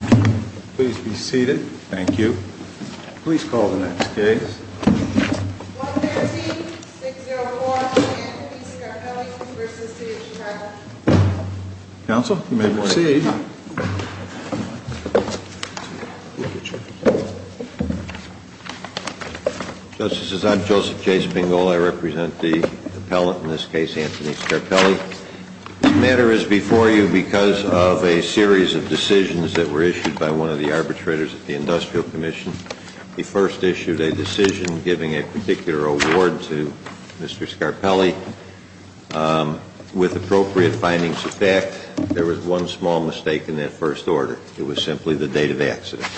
Please be seated. Thank you. Please call the next case. 113-604 Anthony Scarpelli v. City of Chicago. Counsel, you may proceed. Justices, I'm Joseph J. Spingal. I represent the appellant in this case, Anthony Scarpelli. The matter is before you because of a series of decisions that were issued by one of the arbitrators at the Industrial Commission. He first issued a decision giving a particular award to Mr. Scarpelli with appropriate findings of fact. There was one small mistake in that first order. It was simply the date of accident.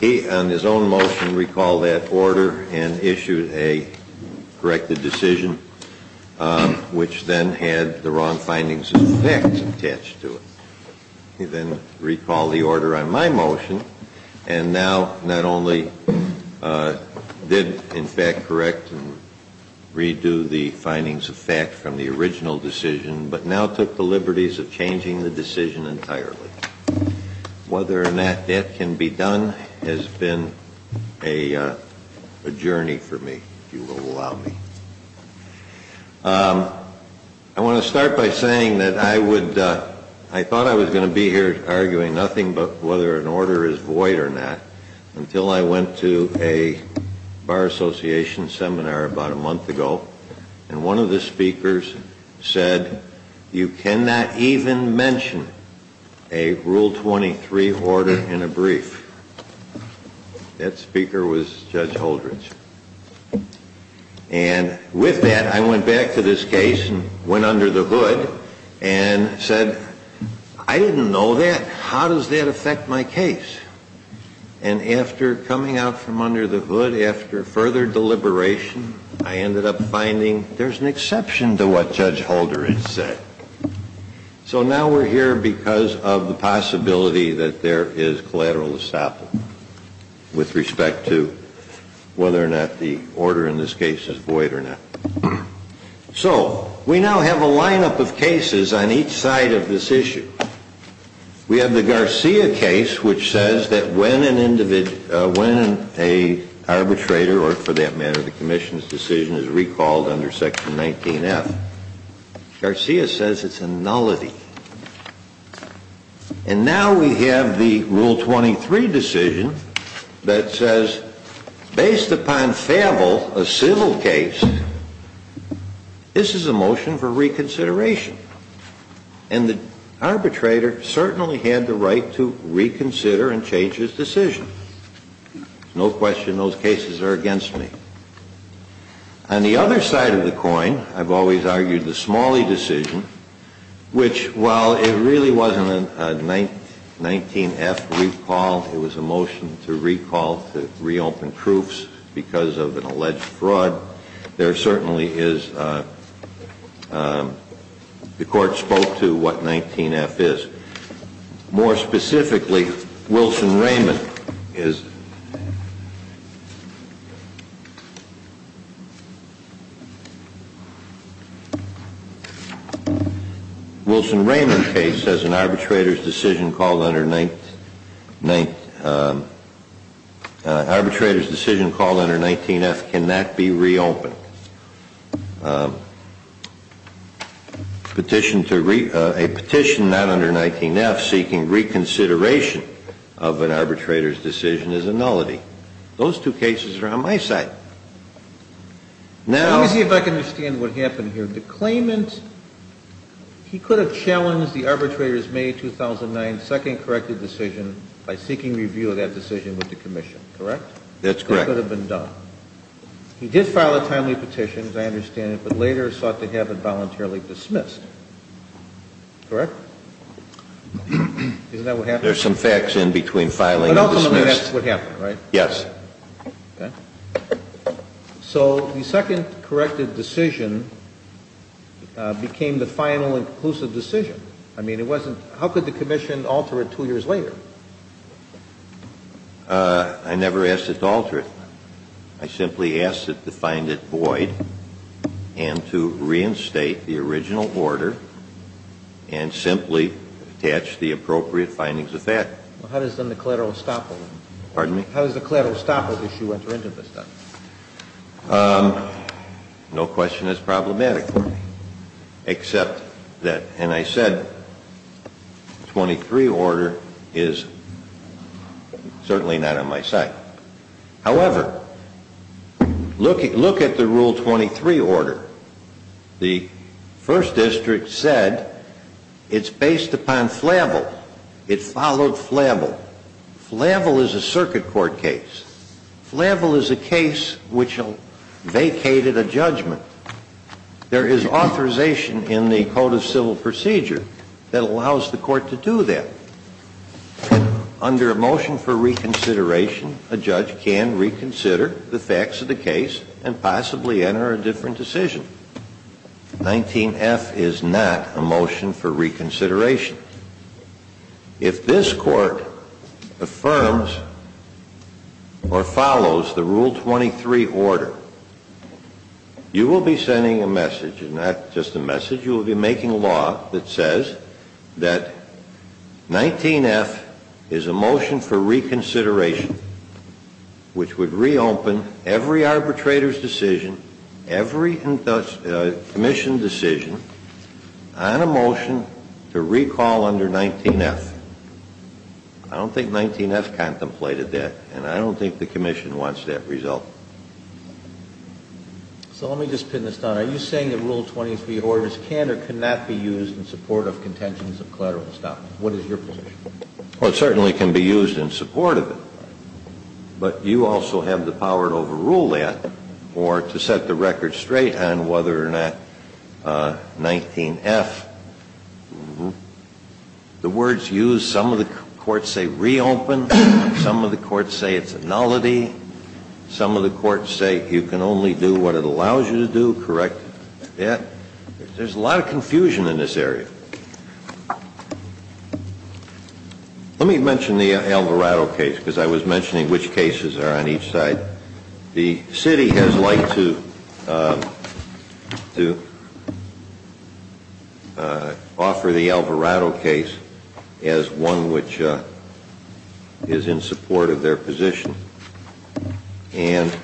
He, on his own motion, recalled that order and issued a corrected decision which then had the wrong findings of fact attached to it. He then recalled the order on my motion and now not only did, in fact, correct and redo the findings of fact from the original decision, but now took the liberties of changing the decision entirely. Whether or not that can be done has been a journey for me, if you will allow me. I want to start by saying that I thought I was going to be here arguing nothing but whether an order is void or not You cannot even mention a Rule 23 order in a brief. That speaker was Judge Holdredge. And with that, I went back to this case and went under the hood and said, I didn't know that. How does that affect my case? And after coming out from under the hood, after further deliberation, I ended up finding there's an exception to what Judge Holdredge said. So now we're here because of the possibility that there is collateral estoppel with respect to whether or not the order in this case is void or not. So we now have a lineup of cases on each side of this issue. We have the Garcia case, which says that when an arbitrator or, for that matter, the commission's decision is recalled under Section 19F, Garcia says it's a nullity. And now we have the Rule 23 decision that says, based upon Favel, a civil case, this is a motion for reconsideration. And the arbitrator certainly had the right to reconsider and change his decision. No question those cases are against me. On the other side of the coin, I've always argued the Smalley decision, which, while it really wasn't a 19F recall, it was a motion to recall, to reopen proofs because of an alleged fraud. There certainly is – the Court spoke to what 19F is. More specifically, Wilson-Raymond is – Wilson-Raymond case says an arbitrator's decision called under 19F cannot be reopened. Petition to – a petition not under 19F seeking reconsideration of an arbitrator's decision is a nullity. Those two cases are on my side. Now – Let me see if I can understand what happened here. The claimant – he could have challenged the arbitrator's May 2009 second corrected decision by seeking review of that decision with the commission, correct? That's correct. That could have been done. He did file a timely petition, as I understand it, but later sought to have it voluntarily dismissed, correct? Isn't that what happened? There's some facts in between filing and dismissed. But ultimately that's what happened, right? Yes. Okay. So the second corrected decision became the final inclusive decision. I mean, it wasn't – how could the commission alter it two years later? I never asked it to alter it. I simply asked it to find it void and to reinstate the original order and simply attach the appropriate findings of fact. Well, how does then the collateral estoppel then? Pardon me? How does the collateral estoppel issue enter into the statute? No question that's problematic for me, except that – and I said the 23 order is certainly not on my side. However, look at the Rule 23 order. The first district said it's based upon flavel. It followed flavel. Flavel is a circuit court case. Flavel is a case which vacated a judgment. There is authorization in the Code of Civil Procedure that allows the court to do that. Under a motion for reconsideration, a judge can reconsider the facts of the case and possibly enter a different decision. 19F is not a motion for reconsideration. If this court affirms or follows the Rule 23 order, you will be sending a message, and not just a message, you will be making law that says that 19F is a motion for reconsideration, which would reopen every arbitrator's decision, every commission decision, on a motion to recall under 19F. I don't think 19F contemplated that, and I don't think the commission wants that result. So let me just pin this down. Are you saying the Rule 23 order can or cannot be used in support of contentions of collateral estoppel? What is your position? Well, it certainly can be used in support of it, but you also have the power to overrule that or to set the record straight on whether or not 19F, the words used, some of the courts say reopen, some of the courts say it's a nullity, some of the courts say you can only do what it allows you to do, correct that. There's a lot of confusion in this area. Let me mention the Alvarado case, because I was mentioning which cases are on each side. The city has liked to offer the Alvarado case as one which is in support of their position, and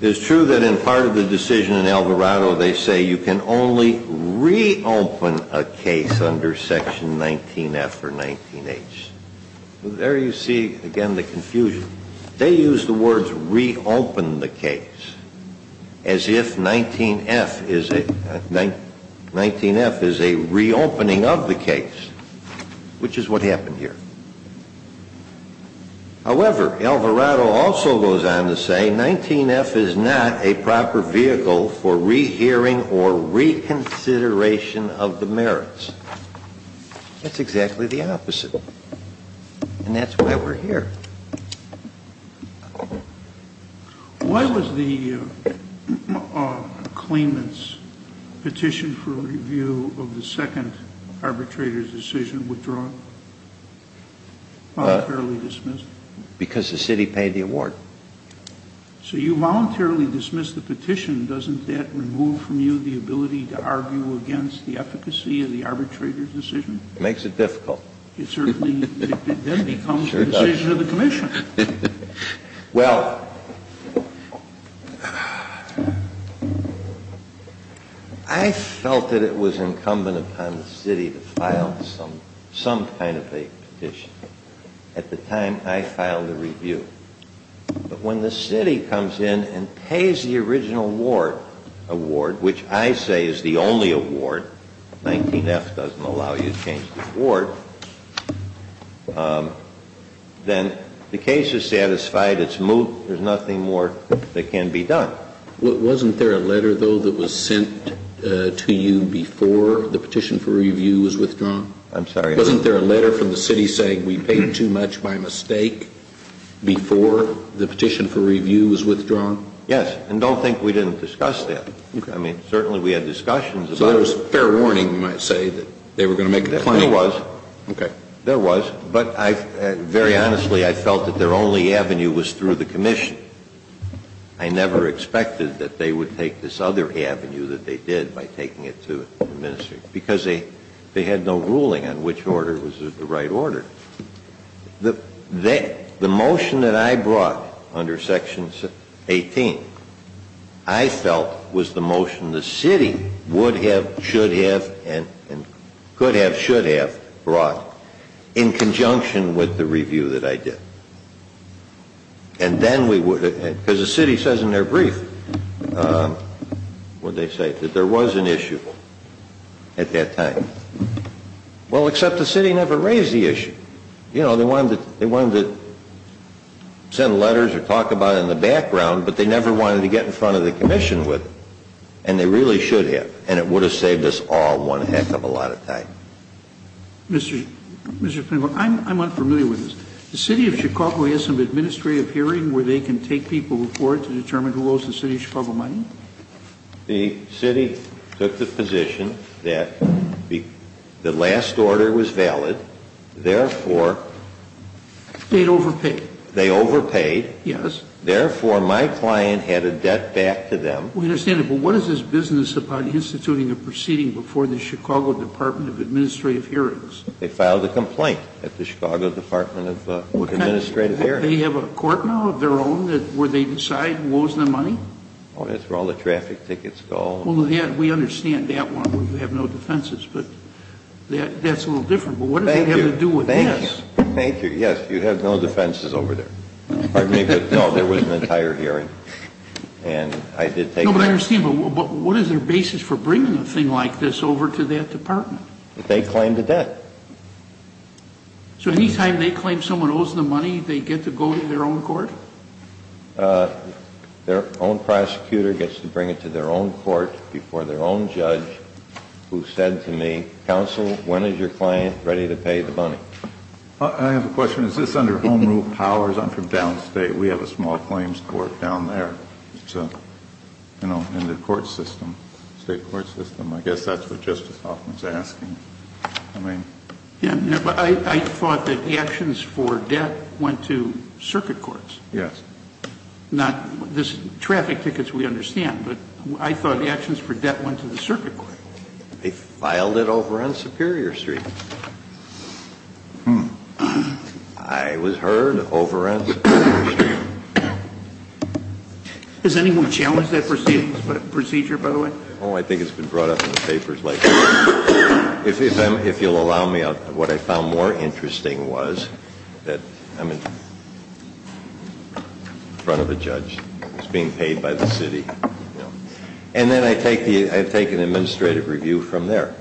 it's true that in part of the decision in Alvarado they say you can only reopen a case under section 19F or 19H. There you see again the confusion. They use the words reopen the case as if 19F is a reopening of the case, which is what happened here. However, Alvarado also goes on to say 19F is not a proper vehicle for rehearing or reconsideration of the merits. That's exactly the opposite, and that's why we're here. Why was the claimant's petition for review of the second arbitrator's decision withdrawn, voluntarily dismissed? Because the city paid the award. So you voluntarily dismissed the petition. Doesn't that remove from you the ability to argue against the efficacy of the arbitrator's decision? It makes it difficult. It certainly then becomes the decision of the commission. Well, I felt that it was incumbent upon the city to file some kind of a petition. At the time I filed the review. But when the city comes in and pays the original award, which I say is the only award, 19F doesn't allow you to change the award, then the case is satisfied, it's moved, there's nothing more that can be done. Wasn't there a letter, though, that was sent to you before the petition for review was withdrawn? I'm sorry? Wasn't there a letter from the city saying we paid too much by mistake before the petition for review was withdrawn? Yes. And don't think we didn't discuss that. Okay. I mean, certainly we had discussions about it. So there was fair warning, you might say, that they were going to make a claim. There was. Okay. There was. But I, very honestly, I felt that their only avenue was through the commission. I never expected that they would take this other avenue that they did by taking it to the minister. Because they had no ruling on which order was the right order. The motion that I brought under Section 18, I felt was the motion the city would have, should have, and could have, should have brought in conjunction with the review that I did. And then we would have, because the city says in their brief, what did they say, that there was an issue at that time. Well, except the city never raised the issue. You know, they wanted to send letters or talk about it in the background, but they never wanted to get in front of the commission with it. And they really should have. And it would have saved us all one heck of a lot of time. Mr. Pinnacle, I'm unfamiliar with this. The city of Chicago has some administrative hearing where they can take people before to determine who owes the city of Chicago money? The city took the position that the last order was valid, therefore. They overpaid. They overpaid. Yes. Therefore, my client had a debt back to them. We understand that. But what is this business about instituting a proceeding before the Chicago Department of Administrative Hearings? They filed a complaint at the Chicago Department of Administrative Hearings. They have a court now of their own where they decide who owes them money? Oh, that's where all the traffic tickets go. Well, we understand that one, where you have no defenses. But that's a little different. But what does that have to do with this? Thank you. Thank you. Yes, you have no defenses over there. Pardon me, but no, there was an entire hearing. No, but I understand. But what is their basis for bringing a thing like this over to that department? They claim the debt. So any time they claim someone owes them money, they get to go to their own court? Their own prosecutor gets to bring it to their own court before their own judge who said to me, counsel, when is your client ready to pay the money? I have a question. Is this under home rule powers? I'm from downstate. We have a small claims court down there. It's a, you know, in the court system, state court system. I guess that's what Justice Hoffman is asking. I mean. Yeah, but I thought that the actions for debt went to circuit courts. Yes. Not this traffic tickets we understand, but I thought the actions for debt went to the circuit court. They filed it over on Superior Street. Hmm. I was heard over on Superior Street. Has anyone challenged that procedure, by the way? Oh, I think it's been brought up in the papers. If you'll allow me, what I found more interesting was that I'm in front of a judge. He's being paid by the city. And then I take the, I take an administrative review from there.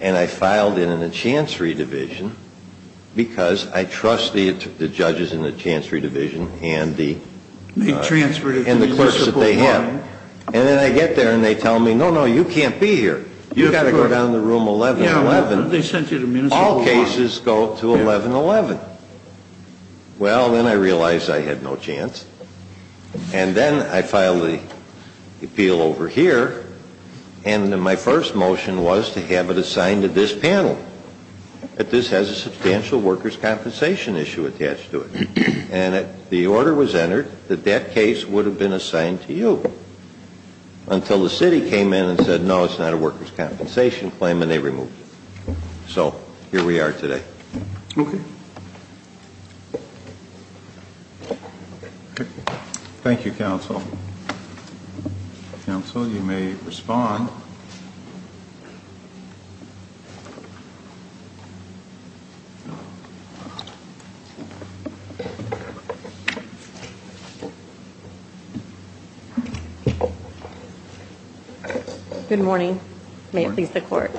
And I filed it in a chancery division because I trust the judges in the chancery division and the clerks that they have. And then I get there and they tell me, no, no, you can't be here. You've got to go down to room 1111. Yeah, well, they sent you to Municipal Law. All cases go to 1111. Well, then I realized I had no chance. And then I filed the appeal over here. And my first motion was to have it assigned to this panel. But this has a substantial workers' compensation issue attached to it. And the order was entered that that case would have been assigned to you. Until the city came in and said, no, it's not a workers' compensation claim, and they removed it. So here we are today. Okay. Thank you, counsel. Counsel, you may respond. Good morning. May it please the court.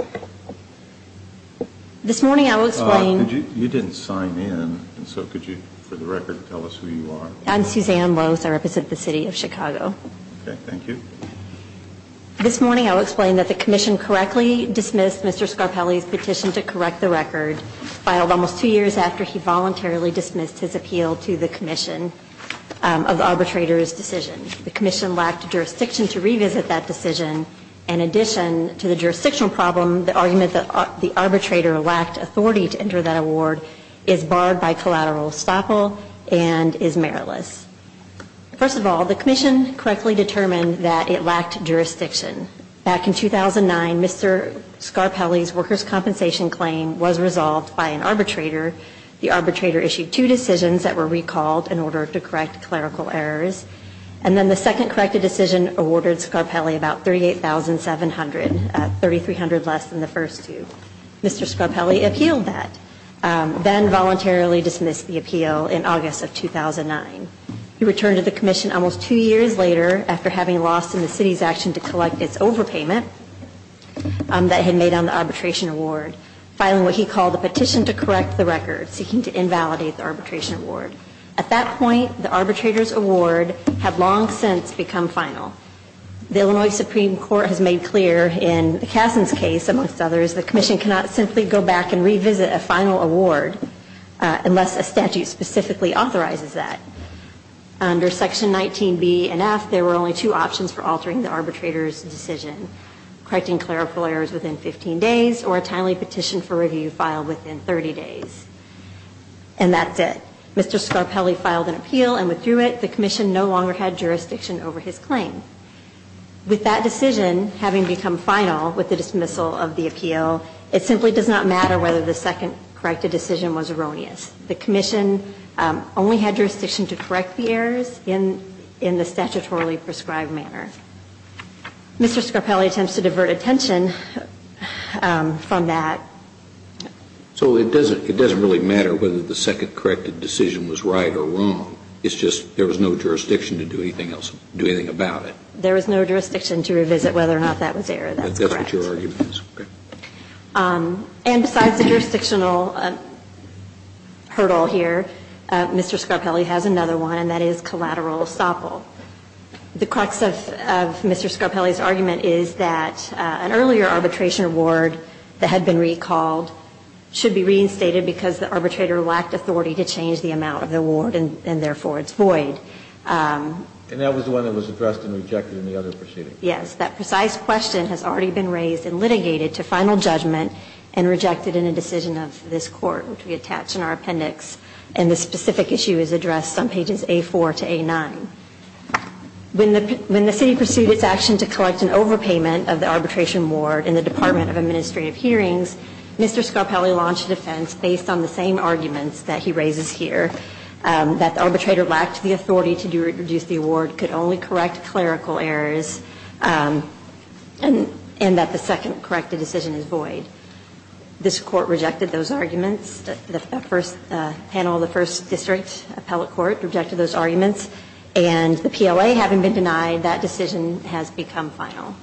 This morning I was saying. You didn't sign in, so could you, for the record, tell us who you are? I'm Suzanne Lose. I represent the city of Chicago. Okay, thank you. This morning I will explain that the commission correctly dismissed Mr. Scarpelli's petition to correct the record, filed almost two years after he voluntarily dismissed his appeal to the commission of the arbitrator's decision. The commission lacked jurisdiction to revisit that decision. In addition to the jurisdictional problem, the argument that the arbitrator lacked authority to enter that award is barred by collateral estoppel and is meritless. First of all, the commission correctly determined that it lacked jurisdiction. Back in 2009, Mr. Scarpelli's workers' compensation claim was resolved by an arbitrator. The arbitrator issued two decisions that were recalled in order to correct clerical errors. And then the second corrected decision awarded Scarpelli about $38,700, $3,300 less than the first two. Mr. Scarpelli appealed that, then voluntarily dismissed the appeal in August of 2009. He returned to the commission almost two years later after having lost in the city's action to collect its overpayment that he had made on the arbitration award, filing what he called a petition to correct the record, seeking to invalidate the arbitration award. At that point, the arbitrator's award had long since become final. The Illinois Supreme Court has made clear in Kasson's case, amongst others, the commission cannot simply go back and revisit a final award unless a statute specifically authorizes that. Under Section 19B and F, there were only two options for altering the arbitrator's decision, correcting clerical errors within 15 days or a timely petition for review filed within 30 days. And that's it. Mr. Scarpelli filed an appeal and withdrew it. The commission no longer had jurisdiction over his claim. With that decision having become final with the dismissal of the appeal, it simply does not matter whether the second corrected decision was erroneous. The commission only had jurisdiction to correct the errors in the statutorily prescribed manner. Mr. Scarpelli attempts to divert attention from that. So it doesn't really matter whether the second corrected decision was right or wrong. It's just there was no jurisdiction to do anything else, do anything about it. There was no jurisdiction to revisit whether or not that was error. That's correct. That's what your argument is. And besides the jurisdictional hurdle here, Mr. Scarpelli has another one, and that is collateral estoppel. The crux of Mr. Scarpelli's argument is that an earlier arbitration award that had been recalled should be reinstated because the arbitrator lacked authority to change the amount of the award, and therefore it's void. And that was the one that was addressed and rejected in the other proceeding. Yes. That precise question has already been raised and litigated to final judgment and rejected in a decision of this Court, which we attach in our appendix. And this specific issue is addressed on pages A4 to A9. When the city pursued its action to collect an overpayment of the arbitration award in the Department of Administrative Hearings, Mr. Scarpelli launched a defense based on the same arguments that he raises here, that the arbitrator lacked the authority to reduce the award, could only correct clerical errors, and that the second corrected decision is void. This Court rejected those arguments. The first panel of the first district appellate court rejected those arguments. And the PLA, having been denied, that decision has become final.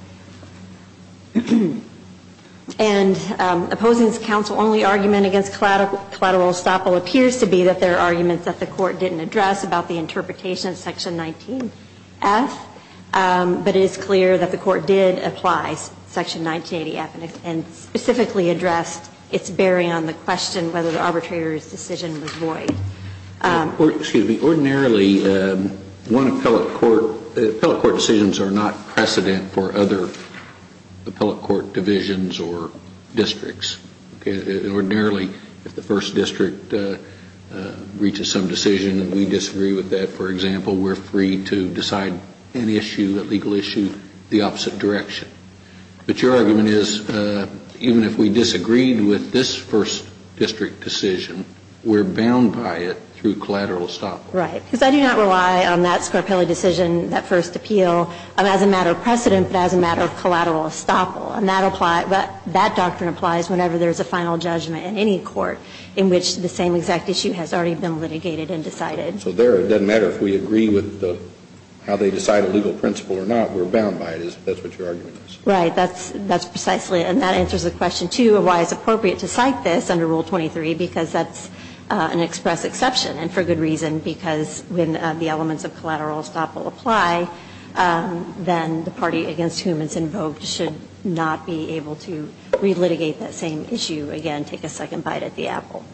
And opposing this counsel-only argument against collateral estoppel appears to be that there are arguments that the Court didn't address about the interpretation of Section 19F, but it is clear that the Court did apply Section 19F and specifically addressed its bearing on the question whether the arbitrator's decision was void. Excuse me. Ordinarily, one appellate court decisions are not precedent for other appellate court divisions or districts. Ordinarily, if the first district reaches some decision and we disagree with that, for example, we're free to decide an issue, a legal issue, the opposite direction. But your argument is even if we disagreed with this first district decision, we're bound by it through collateral estoppel. Right. Because I do not rely on that Scarpelli decision, that first appeal, as a matter of precedent, but as a matter of collateral estoppel. And that doctrine applies whenever there's a final judgment in any court in which the same exact issue has already been litigated and decided. So there it doesn't matter if we agree with how they decide a legal principle or not. We're bound by it. That's what your argument is. Right. That's precisely. And that answers the question, too, of why it's appropriate to cite this under Rule 23, because that's an express exception and for good reason, because when the elements of collateral estoppel apply, then the party against whom it's invoked should not be able to relitigate that same issue, again, take a second bite at the apple.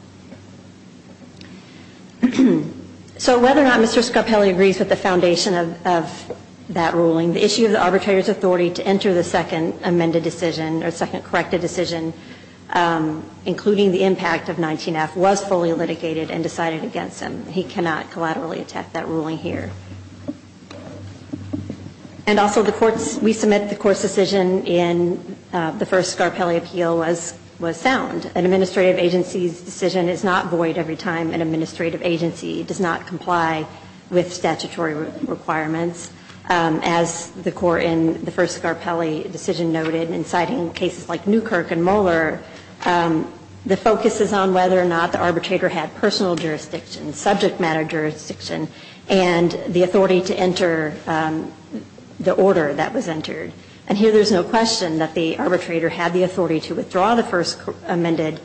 So whether or not Mr. Scarpelli agrees with the foundation of that ruling, the issue of the arbitrator's authority to enter the second amended decision or second corrected decision, including the impact of 19F, was fully litigated and decided against him. He cannot collaterally attack that ruling here. And also the courts, we submit the court's decision in the first Scarpelli appeal was sound. An administrative agency's decision is not void every time an administrative agency does not comply with statutory requirements. As the court in the first Scarpelli decision noted, in citing cases like Newkirk and Mueller, the focus is on whether or not the arbitrator had personal jurisdiction, subject matter jurisdiction, and the authority to enter the order that was entered. And here there's no question that the arbitrator had the authority to withdraw the first amended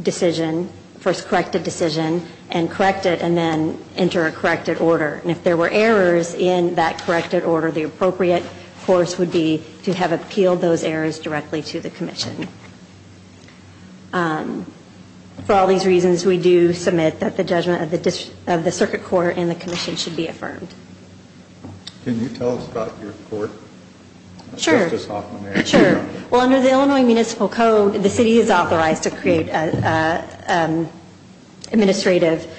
decision, first corrected decision, and correct it and then enter a corrected order. And if there were errors in that corrected order, the appropriate course would be to have appealed those errors directly to the commission. For all these reasons, we do submit that the judgment of the circuit court and the commission should be affirmed. Can you tell us about your court? Sure. Justice Hoffman. Sure. Well, under the Illinois municipal code, the city is authorized to create an administrative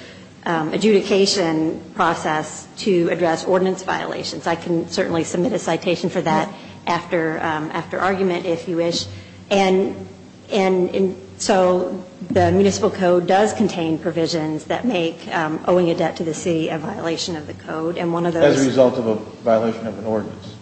adjudication process to address ordinance violations. I can certainly submit a citation for that after argument, if you wish. And so the municipal code does contain provisions that make owing a debt to the city a violation of the code. As a result of a violation of an ordinance,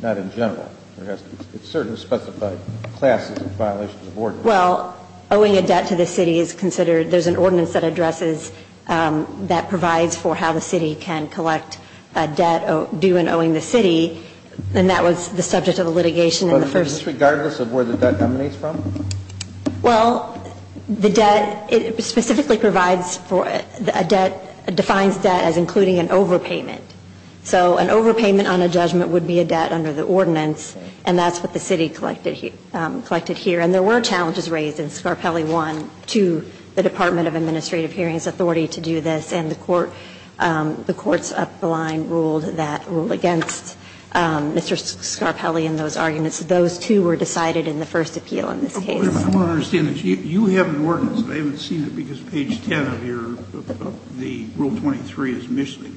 not in general. It certainly specifies classes of violations of ordinance. Well, owing a debt to the city is considered. There's an ordinance that addresses that provides for how the city can collect a debt due in owing the city. And that was the subject of the litigation in the first. But is this regardless of where the debt emanates from? Well, the debt specifically provides for a debt, defines debt as including an overpayment. So an overpayment on a judgment would be a debt under the ordinance, and that's what the city collected here. And there were challenges raised in Scarpelli 1 to the Department of Administrative Hearings Authority to do this, and the court's up the line ruled that rule against Mr. Scarpelli in those arguments. Those two were decided in the first appeal in this case. I want to understand this. You have an ordinance, but I haven't seen it because page 10 of your rule 23 is missing.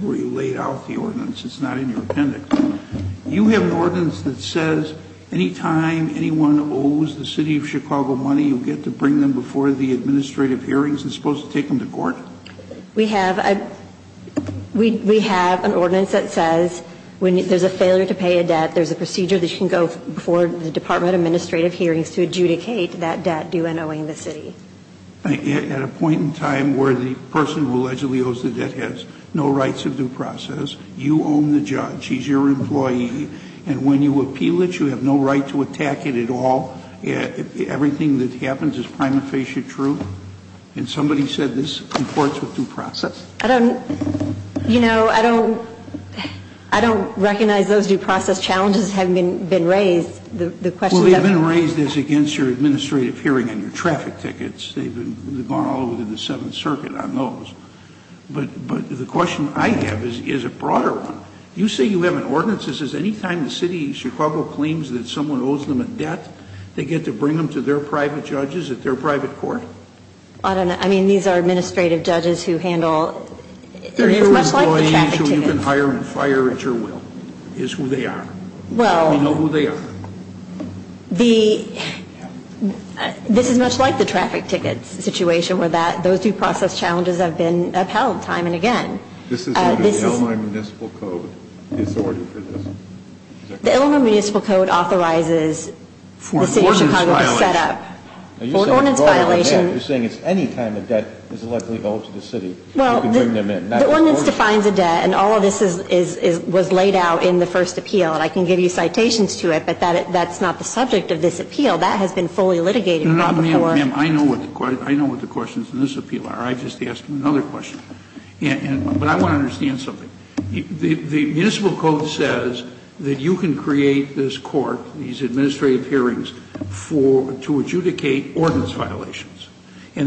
Where you laid out the ordinance. It's not in your appendix. You have an ordinance that says any time anyone owes the city of Chicago money, you get to bring them before the administrative hearings. It's supposed to take them to court? We have an ordinance that says when there's a failure to pay a debt, there's a procedure that you can go before the Department of Administrative Hearings to adjudicate that debt due in owing the city. At a point in time where the person who allegedly owes the debt has no rights of due process, you own the judge. He's your employee. And when you appeal it, you have no right to attack it at all. Everything that happens is prima facie true. And somebody said this comports with due process. I don't, you know, I don't recognize those due process challenges have been raised. Well, they've been raised as against your administrative hearing and your traffic tickets. They've gone all over the Seventh Circuit on those. But the question I have is a broader one. You say you have an ordinance that says any time the city of Chicago claims that someone owes them a debt, they get to bring them to their private judges at their private court? I don't know. I mean, these are administrative judges who handle, much like the traffic tickets. They're employees who you can hire and fire at your will is who they are. Well. We know who they are. The, this is much like the traffic tickets situation where that, those due process challenges have been upheld time and again. This is what the Illinois Municipal Code is ordering for this. The Illinois Municipal Code authorizes the city of Chicago to set up. For an ordinance violation. For an ordinance violation. You're saying it's any time a debt is allegedly owed to the city. You can bring them in. Well, the ordinance defines a debt. And all of this is, was laid out in the first appeal. And I can give you citations to it, but that's not the subject of this appeal. That has been fully litigated right before. No, no, ma'am. I know what the questions in this appeal are. I just asked another question. And, but I want to understand something. The Municipal Code says that you can create this court, these administrative hearings for, to adjudicate ordinance violations. our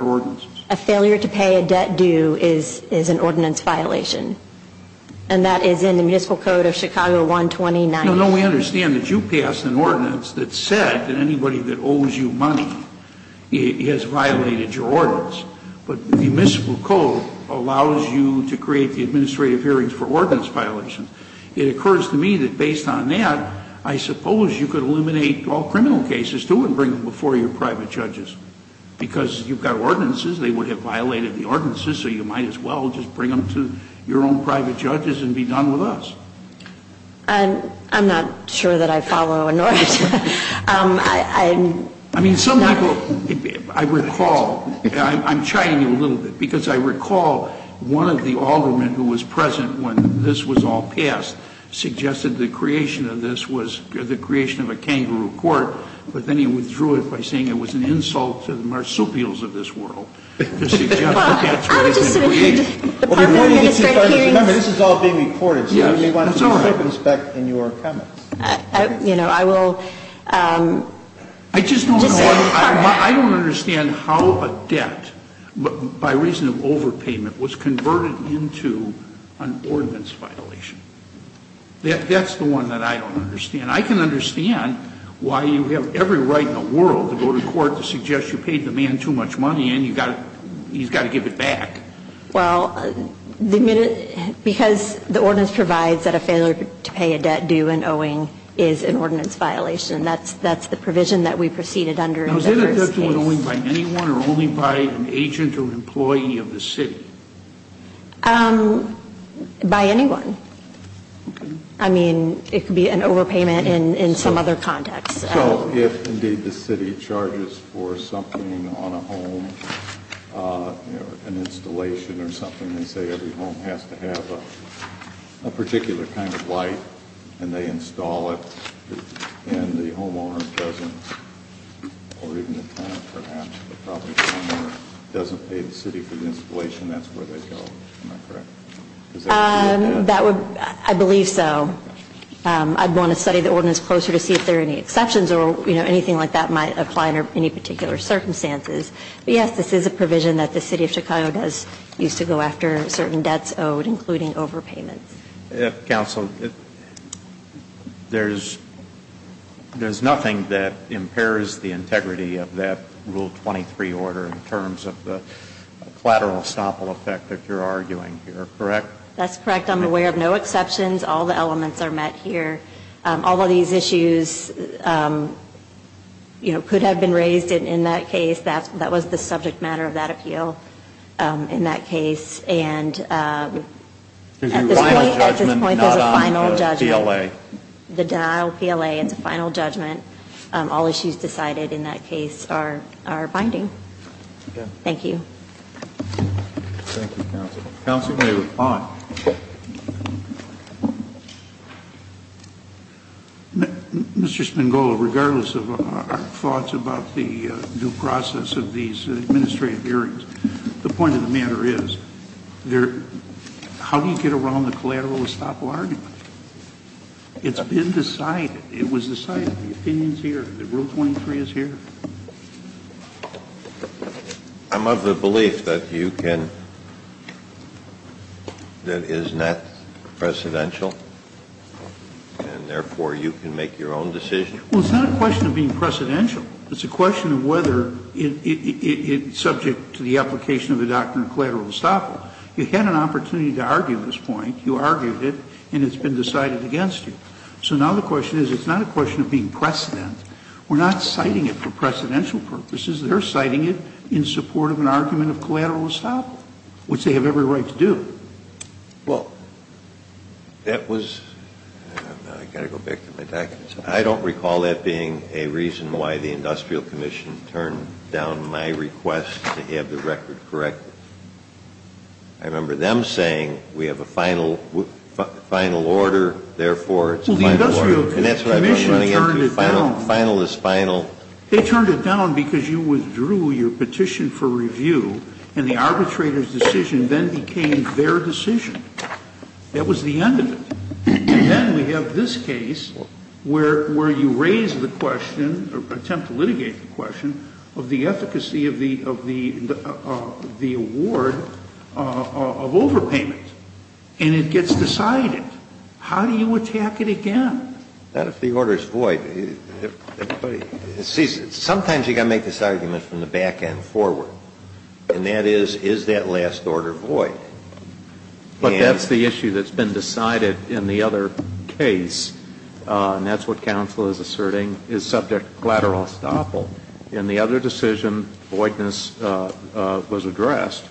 ordinance. A failure to pay a debt due is an ordinance violation. And that is in the Municipal Code of Chicago 129. No, no. We understand that you passed an ordinance that said that anybody that owes you money has violated your ordinance. But the Municipal Code allows you to create the administrative hearings for ordinance violations. It occurs to me that based on that, I suppose you could eliminate all criminal cases, too, and bring them before your private judges. Because you've got ordinances. They would have violated the ordinances, so you might as well just bring them to your own private judges and be done with us. I'm not sure that I follow an ordinance. I mean, some people, I recall, I'm chiding you a little bit. Because I recall one of the aldermen who was present when this was all passed suggested the creation of this was the creation of a kangaroo court, but then he withdrew it by saying it was an insult to the marsupials of this world. Remember, this is all being recorded, so you may want to circumspect in your comments. You know, I will. I don't understand how a debt, by reason of overpayment, was converted into an ordinance violation. That's the one that I don't understand. And I can understand why you have every right in the world to go to court to suggest you paid the man too much money and he's got to give it back. Well, because the ordinance provides that a failure to pay a debt due and owing is an ordinance violation. That's the provision that we proceeded under in the first case. Now, is that a debt due and owing by anyone or only by an agent or an employee of the city? By anyone. I mean, it could be an overpayment in some other context. So if, indeed, the city charges for something on a home, an installation or something, they say every home has to have a particular kind of light and they install it and the homeowner doesn't, or even the tenant perhaps, but probably the homeowner, doesn't pay the city for the installation, that's where they go. Am I correct? I believe so. I'd want to study the ordinance closer to see if there are any exceptions or anything like that might apply under any particular circumstances. But yes, this is a provision that the City of Chicago does use to go after certain debts owed, including overpayments. Counsel, there's nothing that impairs the integrity of that Rule 23 order in terms of a collateral estoppel effect if you're arguing here. Correct? That's correct. I'm aware of no exceptions. All the elements are met here. All of these issues could have been raised in that case. That was the subject matter of that appeal in that case. And at this point, there's a final judgment. The denial PLA is a final judgment. All issues decided in that case are binding. Thank you. Thank you, Counsel. Counsel may respond. Mr. Spangolo, regardless of our thoughts about the due process of these administrative hearings, the point of the matter is, how do you get around the collateral estoppel argument? It's been decided. It was decided. The opinion is here. Rule 23 is here. I'm of the belief that you can – that it is not precedential and, therefore, you can make your own decision. Well, it's not a question of being precedential. It's a question of whether it's subject to the application of the doctrine of collateral estoppel. You had an opportunity to argue this point. You argued it, and it's been decided against you. So now the question is, it's not a question of being precedent. We're not citing it for precedential purposes. They're citing it in support of an argument of collateral estoppel, which they have every right to do. Well, that was – I've got to go back to my documents. I don't recall that being a reason why the Industrial Commission turned down my request to have the record corrected. I remember them saying, we have a final order, therefore, it's a final order. And that's what I'm trying to get to, final is final. They turned it down because you withdrew your petition for review, and the arbitrator's decision then became their decision. That was the end of it. And then we have this case where you raise the question or attempt to litigate the question of the efficacy of the award of overpayment. And it gets decided. How do you attack it again? Not if the order is void. See, sometimes you've got to make this argument from the back end forward. And that is, is that last order void? But that's the issue that's been decided in the other case. And that's what counsel is asserting is subject to collateral estoppel. In the other decision, voidness was addressed.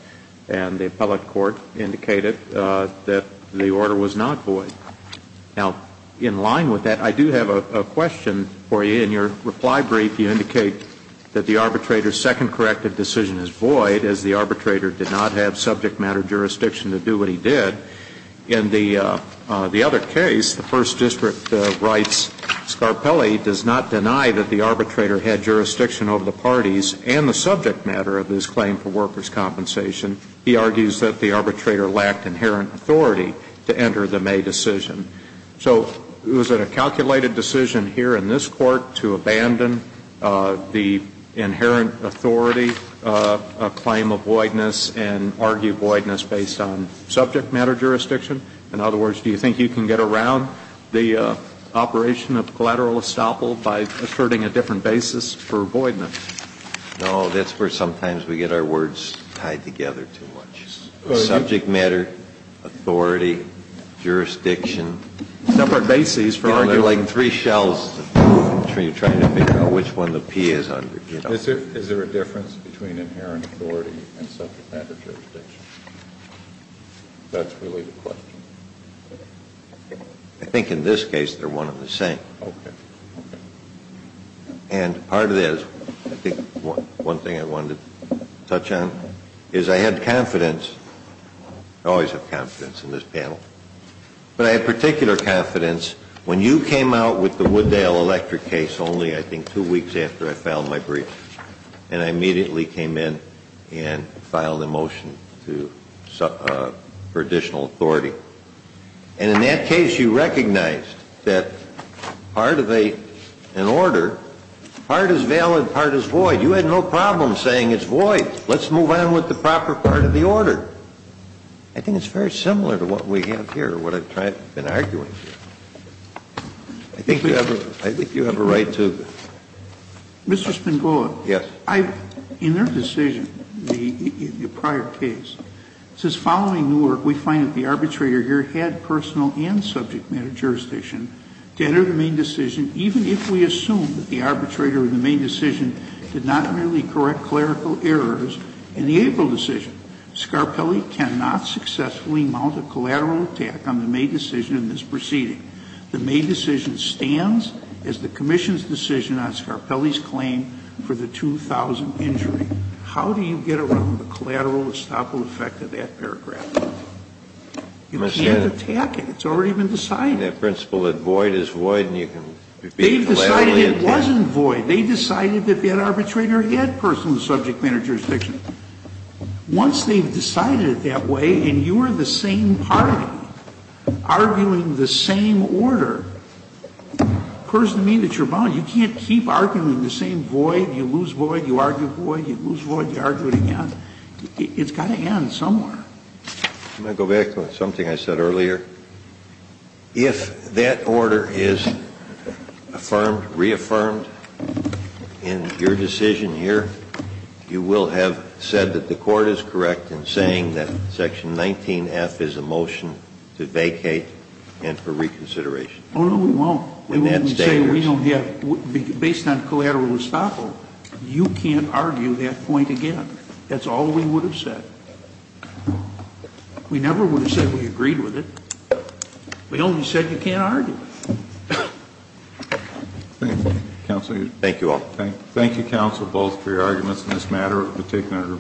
And the appellate court indicated that the order was not void. Now, in line with that, I do have a question for you. In your reply brief, you indicate that the arbitrator's second corrective decision is void, as the arbitrator did not have subject matter jurisdiction to do what he did. In the other case, the First District writes, Scarpelli does not deny that the arbitrator had jurisdiction over the parties and the subject matter of his claim for workers' compensation. He argues that the arbitrator lacked inherent authority to enter the May decision. So is it a calculated decision here in this Court to abandon the inherent authority claim of voidness and argue voidness based on subject matter jurisdiction? In other words, do you think you can get around the operation of collateral estoppel by asserting a different basis for voidness? No, that's where sometimes we get our words tied together too much. Subject matter, authority, jurisdiction. Separate bases for arguing. There are like three shells between trying to figure out which one the P is under. Is there a difference between inherent authority and subject matter jurisdiction? That's really the question. I think in this case they're one and the same. Okay. And part of this, I think one thing I wanted to touch on, is I had confidence, I always have confidence in this panel, but I had particular confidence when you came out with the Wooddale electric case only I think two weeks after I filed my brief and I immediately came in and filed a motion for additional authority. And in that case you recognized that part of an order, part is valid, part is void. You had no problem saying it's void. Let's move on with the proper part of the order. I think it's very similar to what we have here, what I've been arguing here. I think you have a right to. Mr. Spangoli. Yes. In their decision, the prior case, since following Newark, we find that the arbitrator here had personal and subject matter jurisdiction to enter the main decision, even if we assume that the arbitrator in the main decision did not merely correct clerical errors in the April decision. Scarpelli cannot successfully mount a collateral attack on the May decision in this proceeding. The May decision stands as the commission's decision on Scarpelli's claim for the 2,000 injury. How do you get around the collateral estoppel effect of that paragraph? You can't attack it. It's already been decided. In that principle that void is void and you can be collaterally attacked. They've decided it wasn't void. They decided that that arbitrator had personal and subject matter jurisdiction. Once they've decided it that way and you're the same party arguing the same order, it occurs to me that you're bound. You can't keep arguing the same void. You lose void. You argue void. You lose void. You argue it again. It's got to end somewhere. I'm going to go back to something I said earlier. If that order is affirmed, reaffirmed in your decision here, you will have said that the court is correct in saying that section 19F is a motion to vacate and for reconsideration. Oh, no, we won't. We won't say we don't have, based on collateral estoppel, you can't argue that point again. That's all we would have said. We never would have said we agreed with it. We only said you can't argue it. Thank you, counsel. Thank you all. Thank you, counsel, both for your arguments in this matter.